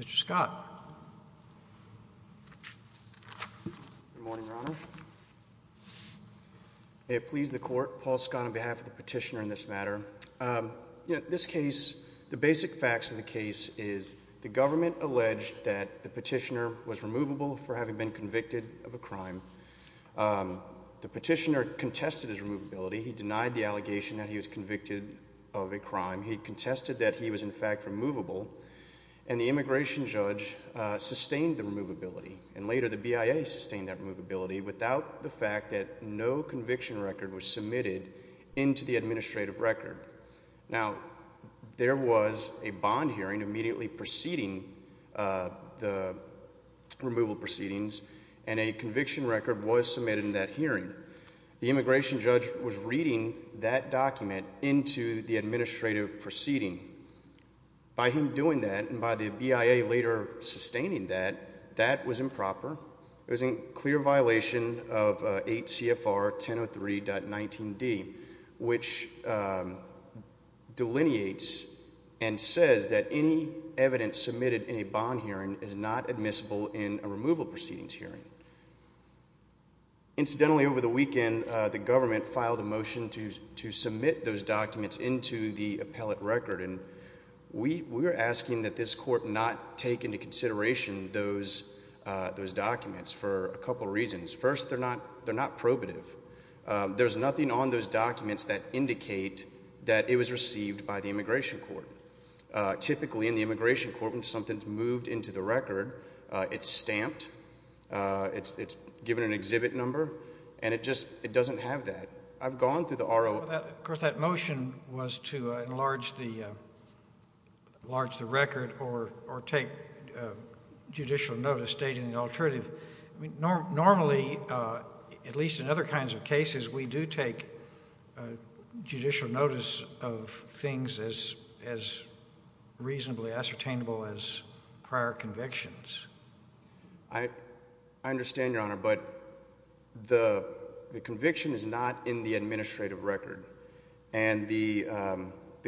Mr. Scott? Good morning, Your Honor. May it please the court, Paul Scott on behalf of the petitioner in this matter. This case, the basic facts of the case is the government alleged that the petitioner was removable for having been convicted of a crime. The petitioner contested his removability. He denied the allegation that he was convicted of a crime. He contested that he was in fact removable. And the immigration judge sustained the removability. And later the BIA sustained that removability without the fact that no record. Now, there was a bond hearing immediately preceding the removal proceedings, and a conviction record was submitted in that hearing. The immigration judge was reading that document into the administrative proceeding. By him doing that, and by the BIA later sustaining that, that was improper. It was a clear violation of 8 CFR 1003.19D, which delineates and says that any evidence submitted in a bond hearing is not admissible in a removal proceedings hearing. Incidentally, over the weekend, the government filed a motion to submit those documents into the appellate record. And we were asking that this court not take into consideration those documents for a couple of reasons. First, they're not probative. There's nothing on those documents that indicate that it was received by the immigration court. Typically in the immigration court, when something's moved into the record, it's stamped, it's given an exhibit number, and it just doesn't have that. I've gone through the R.O. Well, of course, that motion was to enlarge the record or take judicial notice stating the alternative. Normally, at least in other kinds of cases, we do take judicial notice of things as reasonably ascertainable as prior convictions. I understand, Your Honor, but the conviction is not in the administrative record. And the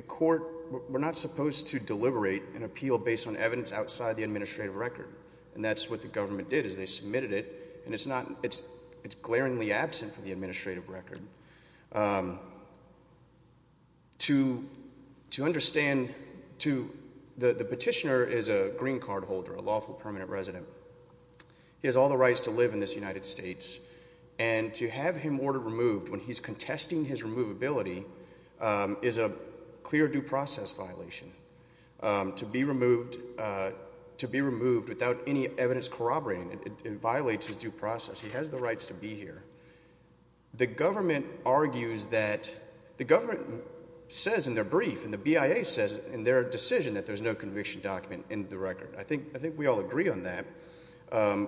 court, we're not supposed to deliberate an appeal based on evidence outside the administrative record. And that's what the government did, is they submitted it, and it's not, it's glaringly absent from the administrative record. To understand, to, the petitioner is a green permanent resident. He has all the rights to live in this United States. And to have him order removed when he's contesting his removability is a clear due process violation. To be removed without any evidence corroborating it violates his due process. He has the rights to be here. The government argues that, the government says in their brief, and the BIA says in their decision that there's no conviction document in the record. I think we all agree on that.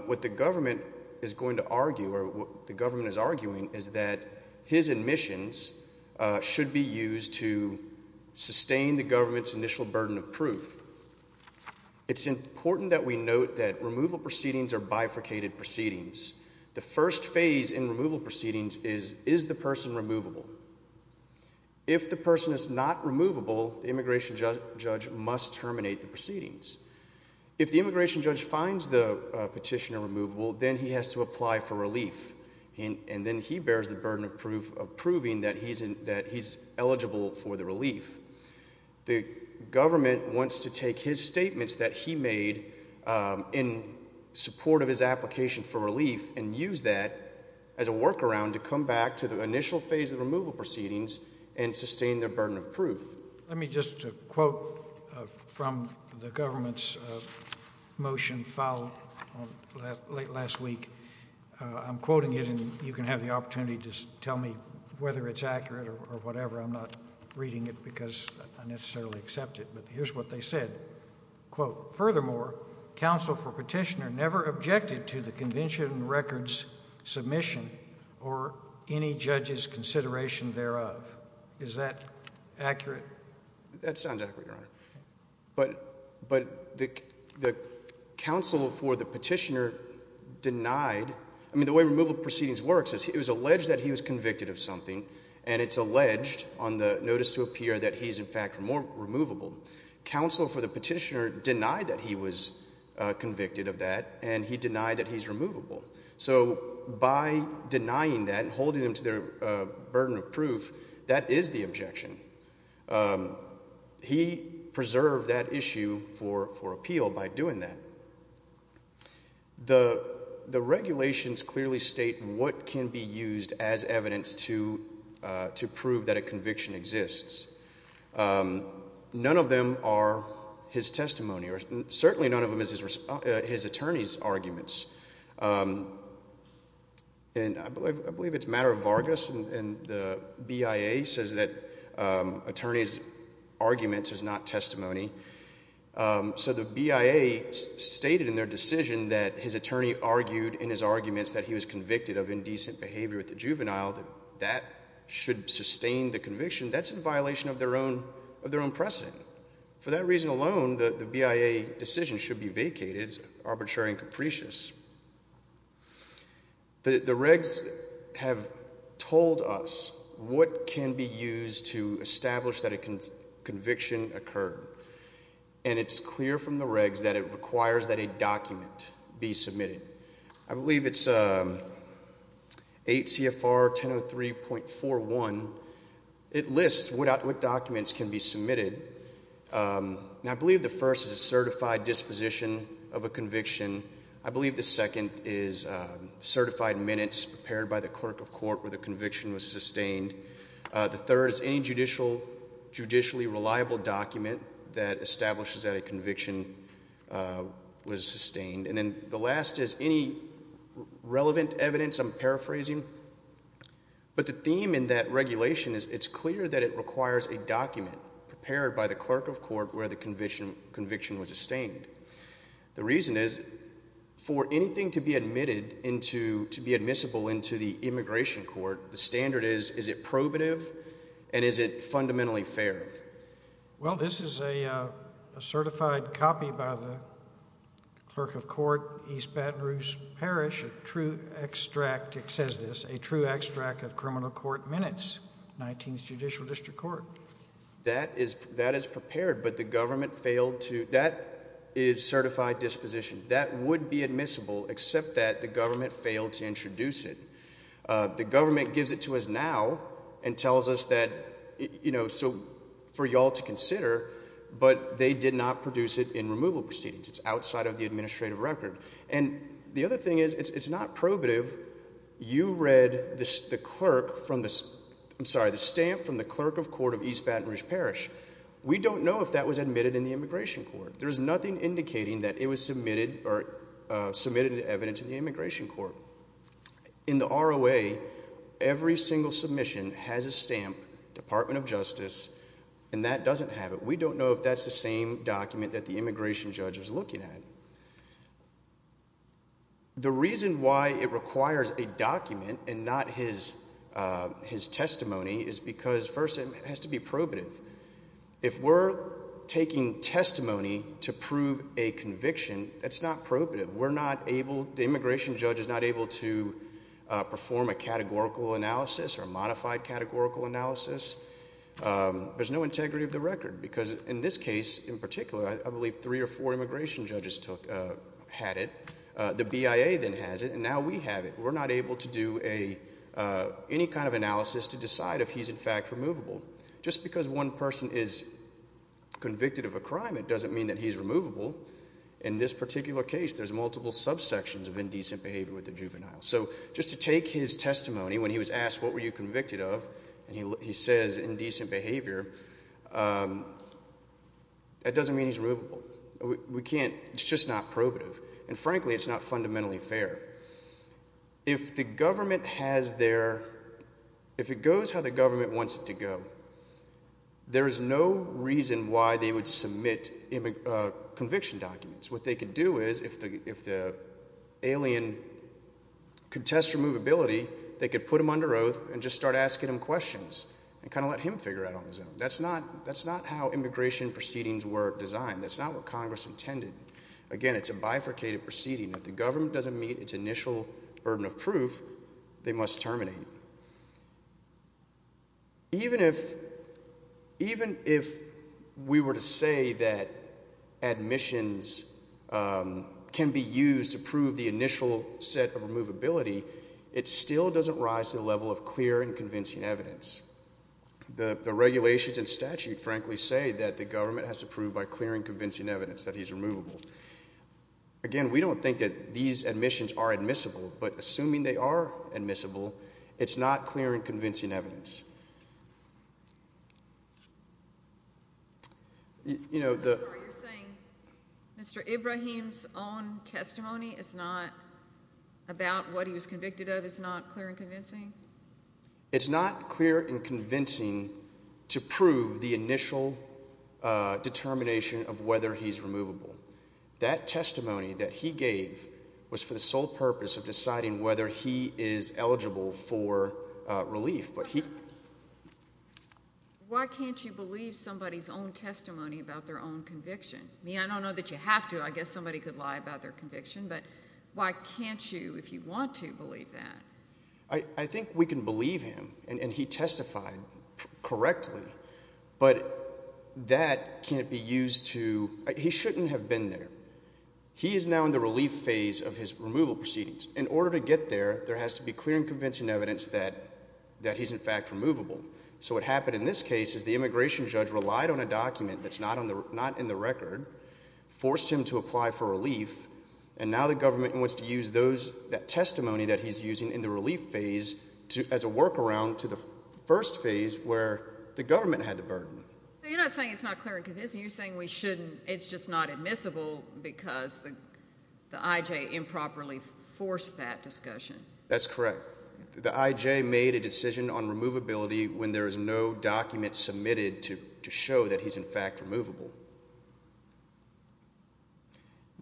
What the government is going to argue, or what the government is arguing, is that his admissions should be used to sustain the government's initial burden of proof. It's important that we note that removal proceedings are bifurcated proceedings. The first phase in removal proceedings is, is the person removable? If the person is not removable, the immigration judge must terminate the proceedings. If the immigration judge finds the petitioner removable, then he has to apply for relief. And, and then he bears the burden of proof of proving that he's in, that he's eligible for the relief. The government wants to take his statements that he made in support of his application for relief and use that as a workaround to come back to the initial phase of removal proceedings and sustain their burden of proof. Let me just quote from the government's motion filed on, late last week. I'm quoting it and you can have the opportunity to tell me whether it's accurate or whatever. I'm not reading it because I necessarily accept it, but here's what they said. Quote, furthermore, counsel for petitioner never objected to the convention record's submission or any judge's objection. Accurate. That sounds accurate, Your Honor. But, but the, the counsel for the petitioner denied, I mean the way removal proceedings works is it was alleged that he was convicted of something and it's alleged on the notice to appear that he's in fact more removable. Counsel for the petitioner denied that he was convicted of that and he denied that he's removable. So by denying that and holding him to their burden of proof, that is the objection. He preserved that issue for, for appeal by doing that. The, the regulations clearly state what can be used as evidence to, to prove that a conviction exists. None of them are his testimony or certainly none of them is his, his attorney's arguments. Um, and I believe, I believe it's a matter of Vargas and the BIA says that, um, attorney's arguments is not testimony. Um, so the BIA stated in their decision that his attorney argued in his arguments that he was convicted of indecent behavior with the juvenile, that should sustain the conviction. That's in violation of their own, of their own precedent. For that reason alone, the BIA decision should be vacated as arbitrary and capricious. The, the regs have told us what can be used to establish that a conviction occurred and it's clear from the regs that it requires that a document be submitted. I believe it's, um, state CFR 1003.41. It lists what documents can be submitted. Um, and I believe the first is a certified disposition of a conviction. I believe the second is, um, certified minutes prepared by the clerk of court where the conviction was sustained. Uh, the third is any judicial, judicially reliable document that establishes that a conviction, uh, was sustained. And the last is any relevant evidence, I'm paraphrasing, but the theme in that regulation is it's clear that it requires a document prepared by the clerk of court where the conviction, conviction was sustained. The reason is for anything to be admitted into, to be admissible into the immigration court, the standard is, is it probative and is it fundamentally fair? Well, this is a, a certified copy by the clerk of court, East Baton Rouge Parish, a true extract, it says this, a true extract of criminal court minutes, 19th Judicial District Court. That is, that is prepared, but the government failed to, that is certified dispositions. That would be admissible except that the government failed to introduce it. Uh, the government gives it to us now and tells us that, you know, so for y'all to consider, but they did not produce it in removal proceedings. It's outside of the administrative record. And the other thing is, it's, it's not probative. You read the clerk from the, I'm sorry, the stamp from the clerk of court of East Baton Rouge Parish. We don't know if that was admitted in the immigration court. There's nothing indicating that it was submitted or, uh, submitted evidence in the immigration court. In the ROA, every single submission has a stamp, Department of Justice, and that doesn't have it. We don't know if that's the same document that the immigration judge was looking at. The reason why it requires a document and not his, uh, his testimony is because first it has to be probative. If we're taking testimony to prove a conviction, that's not probative. We're not able, the immigration judge is not able to, uh, perform a categorical analysis or modified categorical analysis. Um, there's no integrity of the record because in this case in particular, I believe three or four immigration judges took, uh, had it. Uh, the BIA then has it and now we have it. We're not able to do a, uh, any kind of analysis to decide if he's in fact removable. Just because one person is convicted of a crime, it doesn't mean that he's removable. In this particular case, there's multiple subsections of indecent behavior with the juvenile. So just to take his testimony when he was asked, what were you convicted of? And he, he says indecent behavior. Um, that doesn't mean he's removable. We can't, it's just not probative. And frankly, it's not fundamentally fair. If the government has their, if it goes how the government wants it to go, there is no reason why they would submit, uh, conviction documents. What they could do is if the, if the alien could test removability, they could put him under oath and just start asking him questions and kind of let him figure it out on his own. That's not, that's not how immigration proceedings were designed. That's not what Congress intended. Again, it's a bifurcated proceeding. If the government doesn't meet its initial burden of proof, they must terminate. Even if, even if we were to say that admissions, um, can be used to prove the initial set of removability, it still doesn't rise to the level of clear and convincing evidence. The, the regulations and statute frankly say that the government has to prove by clearing convincing evidence that he's removable. Again, we don't think that these admissions are admissible, but assuming they are admissible, it's not clear and convincing evidence. You know, the... I'm sorry, you're saying Mr. Ibrahim's own testimony is not about what he was convicted of is not clear and convincing? It's not clear and convincing to prove the initial, uh, determination of whether he's removable. That testimony that he gave was for the sole purpose of deciding whether he is eligible for, uh, relief. But he... Why can't you believe somebody's own testimony about their own conviction? I mean, I don't know that you have to. I guess somebody could lie about their conviction, but why can't you, if you want to, believe that? I, I think we can believe him and, and he testified correctly, but that can't be used to... He shouldn't have been there. He should have been there. He is now in the relief phase of his removal proceedings. In order to get there, there has to be clear and convincing evidence that, that he's, in fact, removable. So what happened in this case is the immigration judge relied on a document that's not on the, not in the record, forced him to apply for relief, and now the government wants to use those, that testimony that he's using in the relief phase to, as a workaround to the first phase where the government had the burden. So you're not saying it's not clear and convincing. You're saying we shouldn't, it's just not admissible because the, the I.J. improperly forced that discussion. That's correct. The I.J. made a decision on removability when there is no document submitted to, to show that he's, in fact, removable.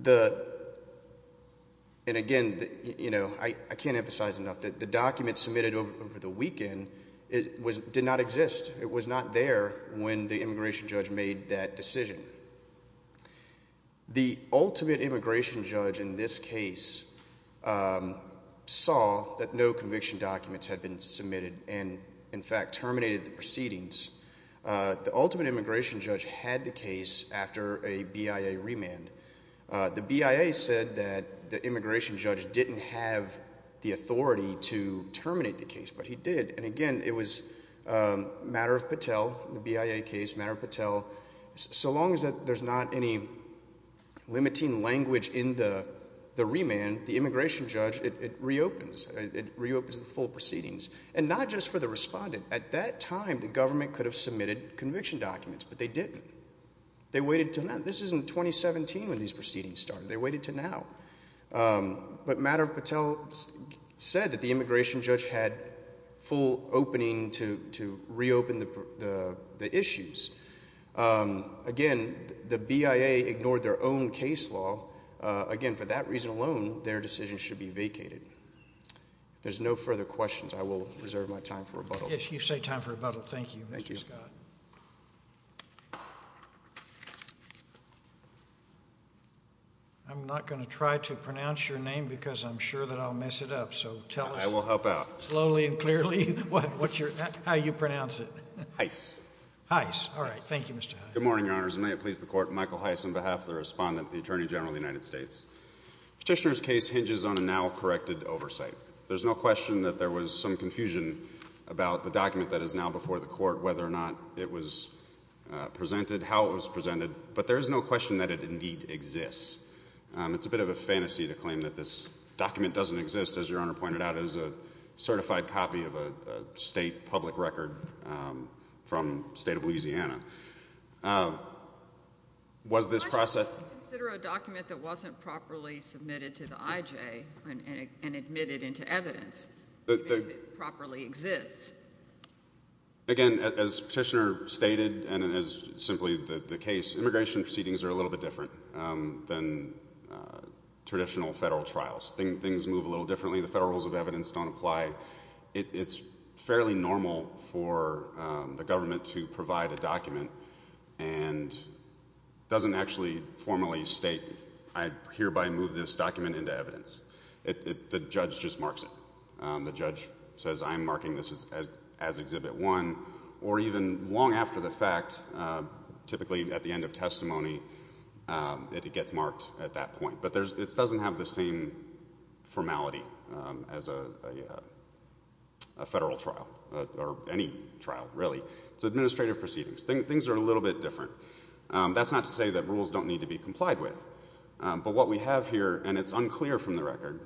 The, and again, you know, I, I can't emphasize enough that the document submitted over, over the weekend was, did not exist. It was not there when the immigration judge made that decision. The ultimate immigration judge in this case saw that no conviction documents had been submitted and, in fact, terminated the proceedings. The ultimate immigration judge had the case after a BIA remand. The BIA said that the immigration judge didn't have the authority to terminate the case, but he did. And again, it was a matter of Patel, the BIA case, matter of Patel. So long as there's not any limiting language in the, the remand, the immigration judge, it, it reopens. It reopens the full proceedings. And not just for the respondent. At that time, the government could have submitted conviction documents, but they didn't. They waited until now. This is in 2017 when these proceedings started. They waited until now. But matter of Patel said that the immigration judge had full opening to, to reopen the, the, the issues. Again, the BIA ignored their own case law. Again, for that reason alone, their decision should be vacated. If there's no further questions, I will reserve my time for rebuttal. Yes, you say time for rebuttal. Thank you, Mr. Scott. I'm not going to try to pronounce your name because I'm sure that I'll mess it up. So tell us, I will help out slowly and clearly. What's your, how you pronounce it? Heiss. Heiss. All right. Thank you, Mr. Heiss. Good morning, your honors. May it please the court. Michael Heiss on behalf of the respondent, the attorney general of the United States. Petitioner's case hinges on a now corrected oversight. There's no question that there was some confusion about the document that is now before the court, whether or not it was presented, how it was presented. But there is no question that it indeed exists. It's a bit of a fantasy to claim that this document doesn't exist. As your honor pointed out, it is a certified copy of a state public record from state of Louisiana. Was this process considered a document that wasn't properly submitted to the IJ and admitted into evidence that properly exists? Again, as Petitioner stated, and as simply the case, immigration proceedings are a little bit different than traditional federal trials. Things move a little differently. The federal rules of evidence don't apply. It's fairly normal for the government to provide a document and doesn't actually formally state, I hereby move this document into evidence. The judge just marks it. The judge says, I'm marking this as Exhibit 1. Or even long after the fact, typically at the end of testimony, it gets marked at that point. But it doesn't have the same formality as a federal trial, or any trial really. It's administrative proceedings. Things are a little bit different. That's not to say that rules don't need to be complied with. But what we have here, and it's unclear from the record,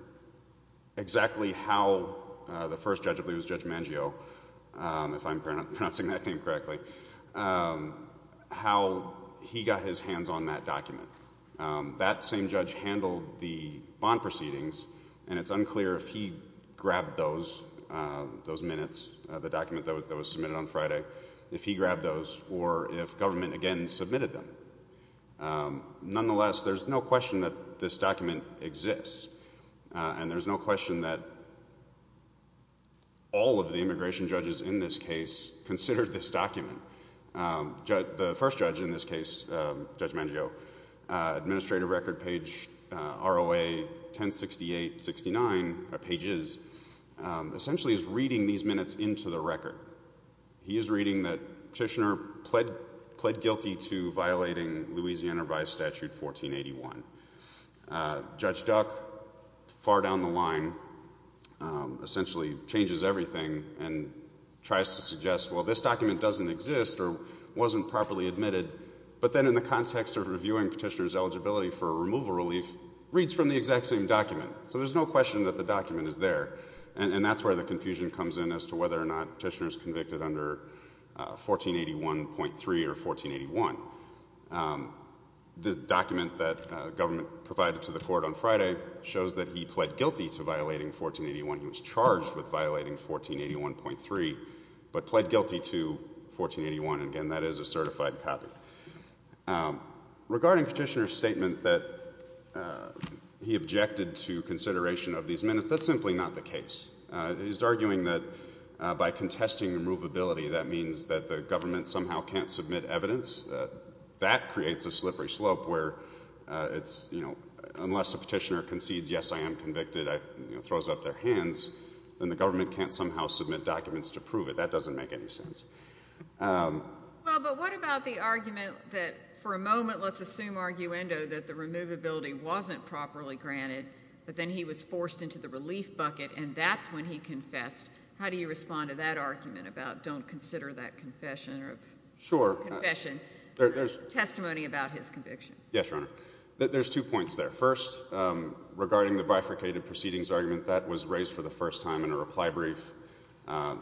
exactly how the first judge I believe was Judge Mangio, if I'm pronouncing that name correctly, how he got his hands on that document. That same judge handled the bond proceedings, and it's unclear if he grabbed those minutes, the document that was submitted on Friday, if he grabbed those, or if government again submitted them. Nonetheless, there's no question that this document exists. And there's no question that all of the immigration judges in this case considered this document. The first judge in this case, Judge Mangio, administrative record page ROA 1068-69, a number of pages, essentially is reading these minutes into the record. He is reading that Petitioner pled guilty to violating Louisiana by Statute 1481. Judge Duck, far down the line, essentially changes everything and tries to suggest, well, this document doesn't exist or wasn't properly admitted. But then in the context of reviewing Petitioner's eligibility for a removal relief, reads from the exact same document. So there's no question that the document is there. And that's where the confusion comes in as to whether or not Petitioner is convicted under 1481.3 or 1481. The document that government provided to the Court on Friday shows that he pled guilty to violating 1481. He was charged with violating 1481.3, but pled guilty to 1481. And again, that is a certified copy. Regarding Petitioner's statement that he objected to consideration of these minutes, that's simply not the case. He's arguing that by contesting removability, that means that the government somehow can't submit evidence. That creates a slippery slope where it's, you know, unless a Petitioner concedes, yes, I am convicted, throws up their hands, then the government can't somehow submit documents to prove it. That doesn't make any sense. Well, but what about the argument that, for a moment, let's assume arguendo, that the removability wasn't properly granted, but then he was forced into the relief bucket, and that's when he confessed? How do you respond to that argument about don't consider that confession or that testimony about his conviction? Yes, Your Honor. There's two points there. First, regarding the bifurcated proceedings argument, that was raised for the first time in a reply brief.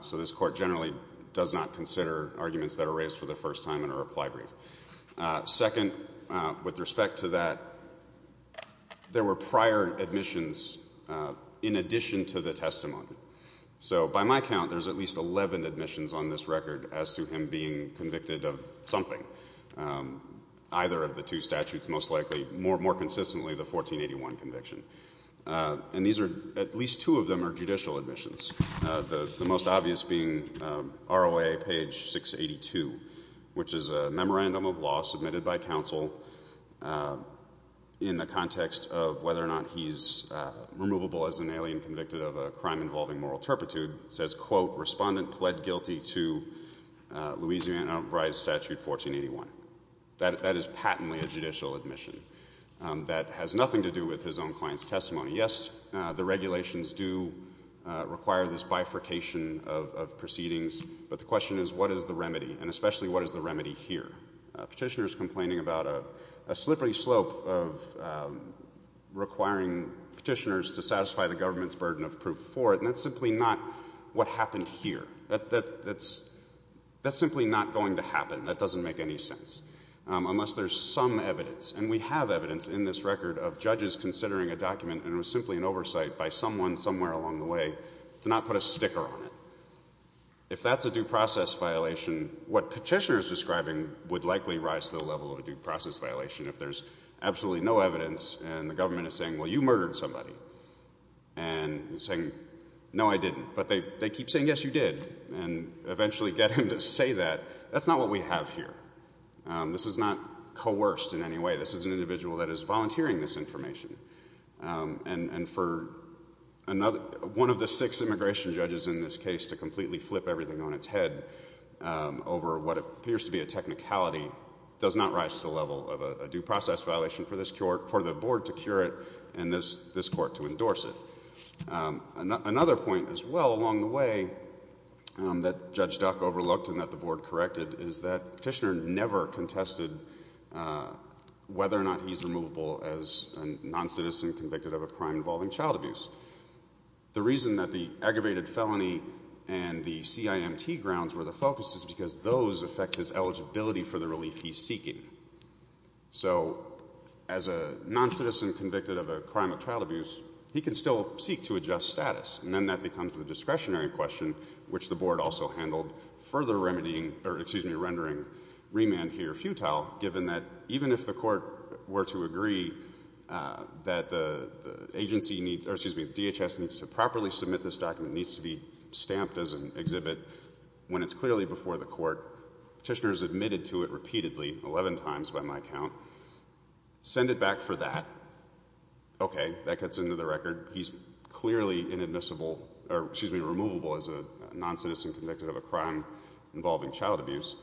So this Court generally does not consider arguments that are raised for the first time in a reply brief. Second, with respect to that, there were prior admissions in addition to the testimony. So by my count, there's at least 11 admissions on this record as to him being convicted of something, either of the two statutes most likely, more consistently the 1481 conviction. And these are, at least two of them are judicial admissions, the most obvious being ROA page 682, which is a memorandum of law submitted by counsel in the context of whether or not he's removable as an alien convicted of a crime involving moral turpitude. It says, quote, Respondent pled guilty to Louisiana Brides Statute 1481. That is patently a judicial admission. That has nothing to do with his own client's testimony. Yes, the regulations do require this bifurcation of proceedings, but the question is what is the remedy, and especially what is the remedy here? Petitioners complaining about a slippery slope of requiring petitioners to satisfy the government's burden of proof for it, and that's simply not what happened here. That's simply not going to happen. That doesn't make any sense unless there's some evidence, and we have evidence in this record of judges considering a document, and it was simply an oversight by someone somewhere along the way to not put a sticker on it. If that's a due process violation, what petitioners are describing would likely rise to the level of a due process violation if there's absolutely no evidence and the government is saying, well, you murdered somebody, and saying, no, I didn't. But they keep saying, yes, you did, and eventually get him to say that. That's not what we have here. This is not coerced in any way. This is an individual that is volunteering this information. And for one of the six immigration judges in this case to completely flip everything on its head over what appears to be a technicality does not rise to the level of a due process violation for this court, for the board to cure it, and this court to endorse it. Another point as well along the way that Judge Duck overlooked and that the board corrected is that Petitioner never contested whether or not he's removable as a non-citizen convicted of a crime involving child abuse. The reason that the aggravated felony and the CIMT grounds were the focus is because So as a non-citizen convicted of a crime of child abuse, he can still seek to adjust status. And then that becomes the discretionary question, which the board also handled, further remedying, or excuse me, rendering remand here futile, given that even if the court were to agree that the agency needs, or excuse me, DHS needs to properly submit this document, needs to be stamped as an exhibit when it's clearly before the court, Petitioner's admitted to it repeatedly, 11 times by my count, send it back for that. Okay, that gets into the record. He's clearly inadmissible, or excuse me, removable as a non-citizen convicted of a crime involving child abuse.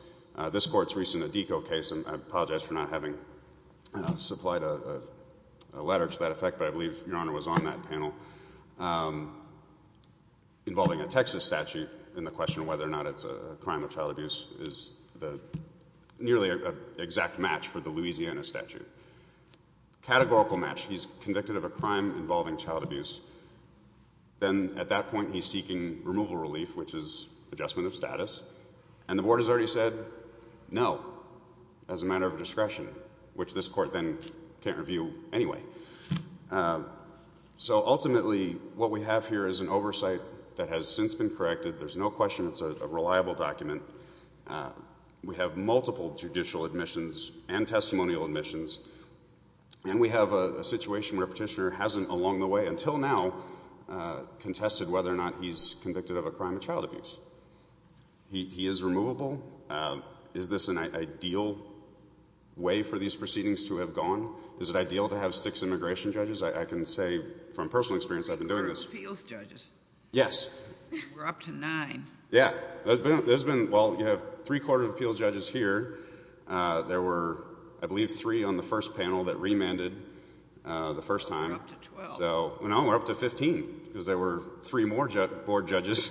This court's recent ADECO case, and I apologize for not having supplied a letter to that effect, but I believe Your Honor was on that panel, involving a Texas statute and the question of whether or not it's a crime of child abuse is nearly an exact match for the Louisiana statute. Categorical match, he's convicted of a crime involving child abuse, then at that point he's seeking removal relief, which is adjustment of status, and the board has already said no, as a matter of discretion, which this court then can't review anyway. So ultimately what we have here is an oversight that has since been corrected. There's no question it's a reliable document. We have multiple judicial admissions and testimonial admissions, and we have a situation where Petitioner hasn't along the way until now contested whether or not he's convicted of a crime of child abuse. He is removable. Is this an ideal way for these proceedings to have gone? Is it ideal to have six immigration judges? I can say from personal experience I've been doing this. Appeals judges. Yes. We're up to nine. Yeah. There's been, well, you have three court of appeals judges here. There were, I believe, three on the first panel that remanded the first time. We're up to 12. No, we're up to 15, because there were three more board judges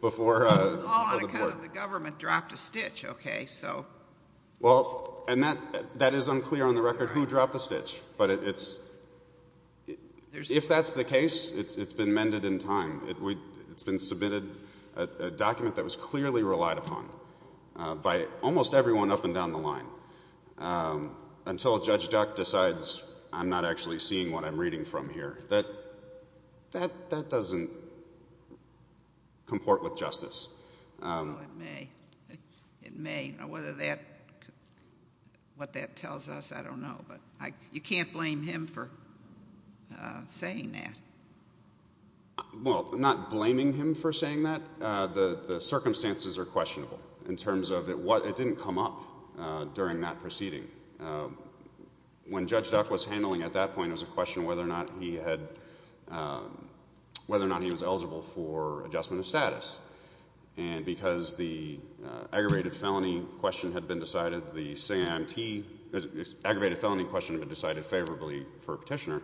before the board. All on account of the government dropped a stitch, okay, so. Well, and that is unclear on the record who dropped the stitch, but it's, if that's the case, it's been mended in time. It's been submitted a document that was clearly relied upon by almost everyone up and down the line until Judge Duck decides I'm not actually seeing what I'm reading from here. That doesn't comport with justice. It may. It may. Whether that, what that tells us, I don't know. But you can't blame him for saying that. Well, I'm not blaming him for saying that. The circumstances are questionable in terms of it didn't come up during that proceeding. When Judge Duck was handling it at that point, it was a question of whether or not he had, whether or not he was eligible for adjustment of status. And because the aggravated felony question had been decided, the SAMT, the aggravated felony question had been decided favorably for Petitioner,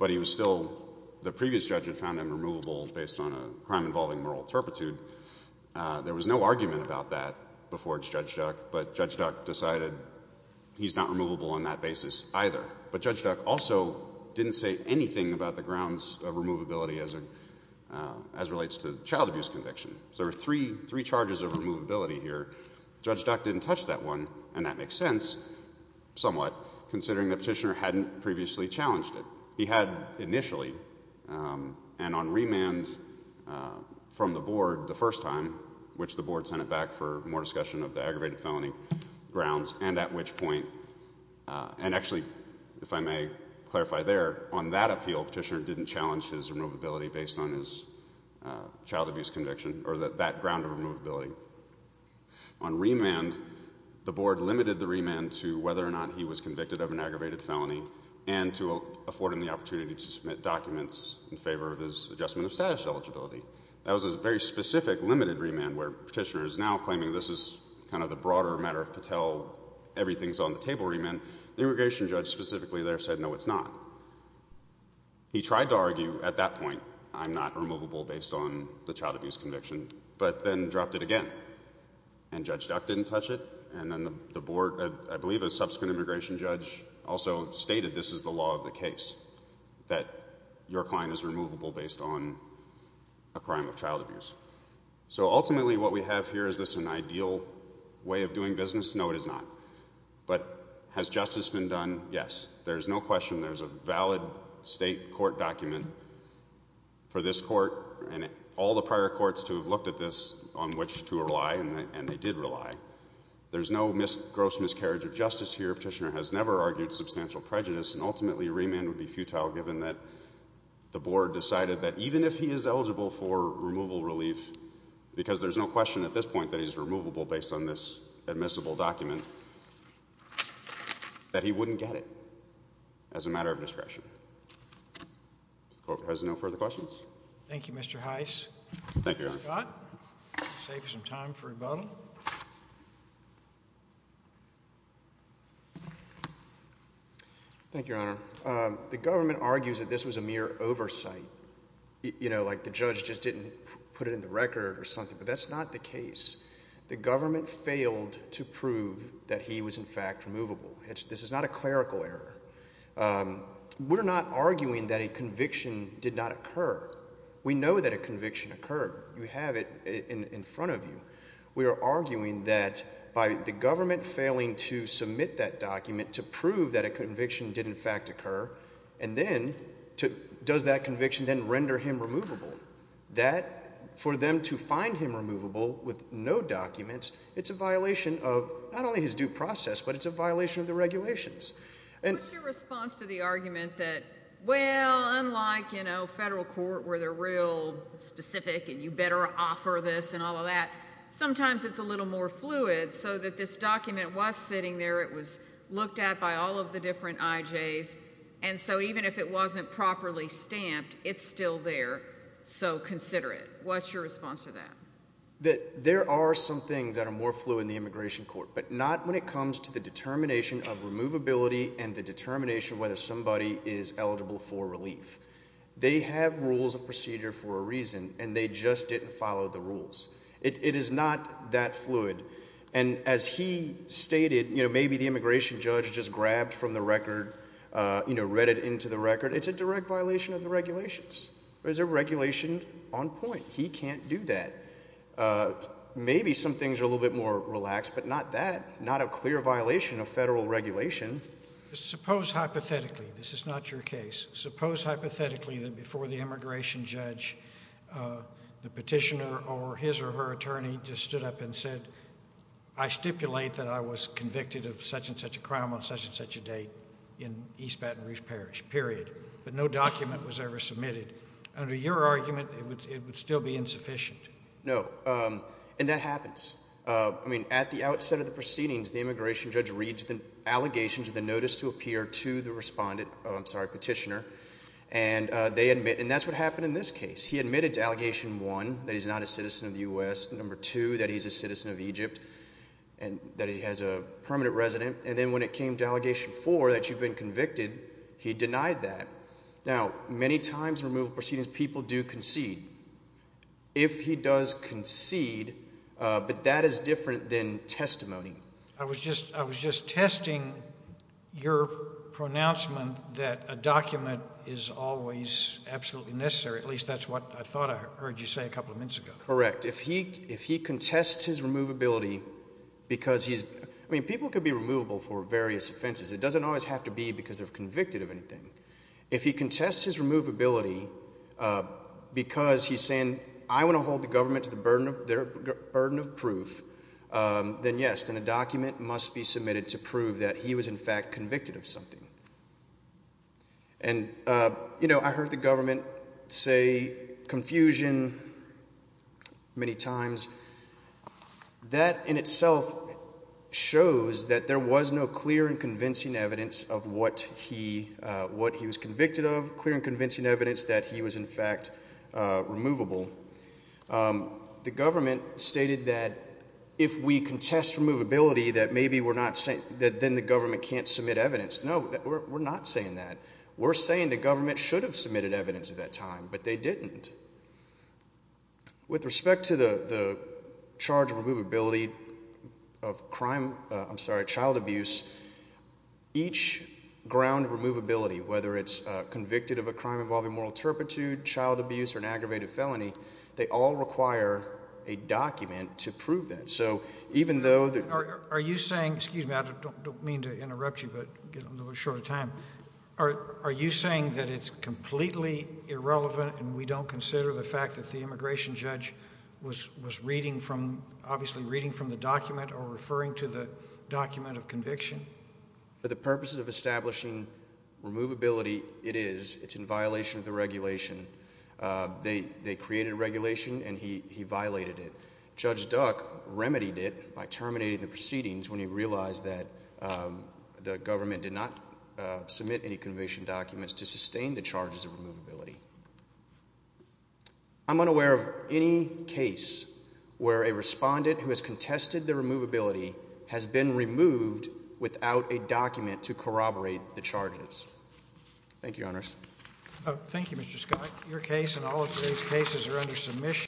but he was still, the previous judge had found him removable based on a crime involving moral turpitude. There was no argument about that before Judge Duck, but Judge Duck decided he's not removable on that basis either. But Judge Duck also didn't say anything about the grounds of removability as relates to child abuse conviction. So there were three charges of removability here. Judge Duck didn't touch that one, and that makes sense somewhat, considering that Petitioner hadn't previously challenged it. He had initially, and on remand from the board the first time, which the board sent it back for more discussion of the aggravated felony grounds, and at which point, and actually if I may clarify there, on that appeal Petitioner didn't challenge his removability based on his child abuse conviction or that ground of removability. On remand, the board limited the remand to whether or not he was convicted of an aggravated felony and to afford him the opportunity to submit documents in favor of his adjustment of status eligibility. That was a very specific limited remand where Petitioner is now claiming this is kind of the broader matter of Patel, everything's on the table remand. The immigration judge specifically there said no, it's not. He tried to argue at that point, I'm not removable based on the child abuse conviction, but then dropped it again. And Judge Duck didn't touch it, and then the board, I believe a subsequent immigration judge, also stated this is the law of the case, that your client is removable based on a crime of child abuse. So ultimately what we have here, is this an ideal way of doing business? No, it is not. But has justice been done? Yes. There's no question there's a valid state court document for this court and all the prior courts to have looked at this on which to rely, and they did rely. There's no gross miscarriage of justice here. Petitioner has never argued substantial prejudice, and ultimately remand would be futile given that the board decided that even if he is eligible for removal relief, because there's no question at this point that he's removable based on this admissible document, that he wouldn't get it as a matter of discretion. If the court has no further questions. Thank you, Mr. Heiss. Thank you, Your Honor. Mr. Scott, save some time for rebuttal. Thank you, Your Honor. The government argues that this was a mere oversight, like the judge just didn't put it in the record or something, but that's not the case. The government failed to prove that he was, in fact, removable. This is not a clerical error. We're not arguing that a conviction did not occur. We know that a conviction occurred. You have it in front of you. We are arguing that by the government failing to submit that document to prove that a conviction did, in fact, occur, and then does that conviction then render him removable, that for them to find him removable with no documents, it's a violation of not only his due process, but it's a violation of the regulations. What's your response to the argument that, well, unlike, you know, federal court where they're real specific and you better offer this and all of that, sometimes it's a little more fluid so that this document was sitting there, it was looked at by all of the different IJs, and so even if it wasn't properly stamped, it's still there, so consider it. What's your response to that? There are some things that are more fluid in the immigration court, but not when it comes to the determination of removability and the determination whether somebody is eligible for relief. They have rules of procedure for a reason, and they just didn't follow the rules. It is not that fluid. And as he stated, you know, maybe the immigration judge just grabbed from the record, you know, read it into the record. It's a direct violation of the regulations. There's a regulation on point. He can't do that. Maybe some things are a little bit more relaxed, but not that. Not a clear violation of federal regulation. Suppose hypothetically, this is not your case, suppose hypothetically that before the immigration judge the petitioner or his or her attorney just stood up and said, I stipulate that I was convicted of such and such a crime on such and such a date in East Baton Rouge Parish, period, but no document was ever submitted. Under your argument, it would still be insufficient. No, and that happens. I mean, at the outset of the proceedings, the immigration judge reads the allegations of the notice to appear to the respondent, I'm sorry, petitioner, and they admit, and that's what happened in this case. He admitted to allegation one that he's not a citizen of the U.S., number two that he's a citizen of Egypt and that he has a permanent resident, and then when it came to allegation four that you've been convicted, he denied that. Now, many times in removal proceedings people do concede. If he does concede, but that is different than testimony. I was just testing your pronouncement that a document is always absolutely necessary, at least that's what I thought I heard you say a couple of minutes ago. Correct. If he contests his removability because he's—I mean, people could be removable for various offenses. It doesn't always have to be because they're convicted of anything. If he contests his removability because he's saying I want to hold the government to their burden of proof, then yes, then a document must be submitted to prove that he was in fact convicted of something. And, you know, I heard the government say confusion many times. That in itself shows that there was no clear and convincing evidence of what he was convicted of, clear and convincing evidence that he was in fact removable. The government stated that if we contest removability that maybe we're not— that then the government can't submit evidence. No, we're not saying that. We're saying the government should have submitted evidence at that time, but they didn't. With respect to the charge of removability of crime—I'm sorry, child abuse, each ground of removability, whether it's convicted of a crime involving moral turpitude, child abuse, or an aggravated felony, they all require a document to prove that. Are you saying—excuse me, I don't mean to interrupt you, but I'm getting a little short of time. Are you saying that it's completely irrelevant and we don't consider the fact that the immigration judge was reading from—obviously reading from the document or referring to the document of conviction? For the purposes of establishing removability, it is. It's in violation of the regulation. They created regulation, and he violated it. Judge Duck remedied it by terminating the proceedings when he realized that the government did not submit any conviction documents to sustain the charges of removability. I'm unaware of any case where a respondent who has contested the removability has been removed without a document to corroborate the charges. Thank you, Your Honors. Thank you, Mr. Scott. Your case and all of today's cases are under submission.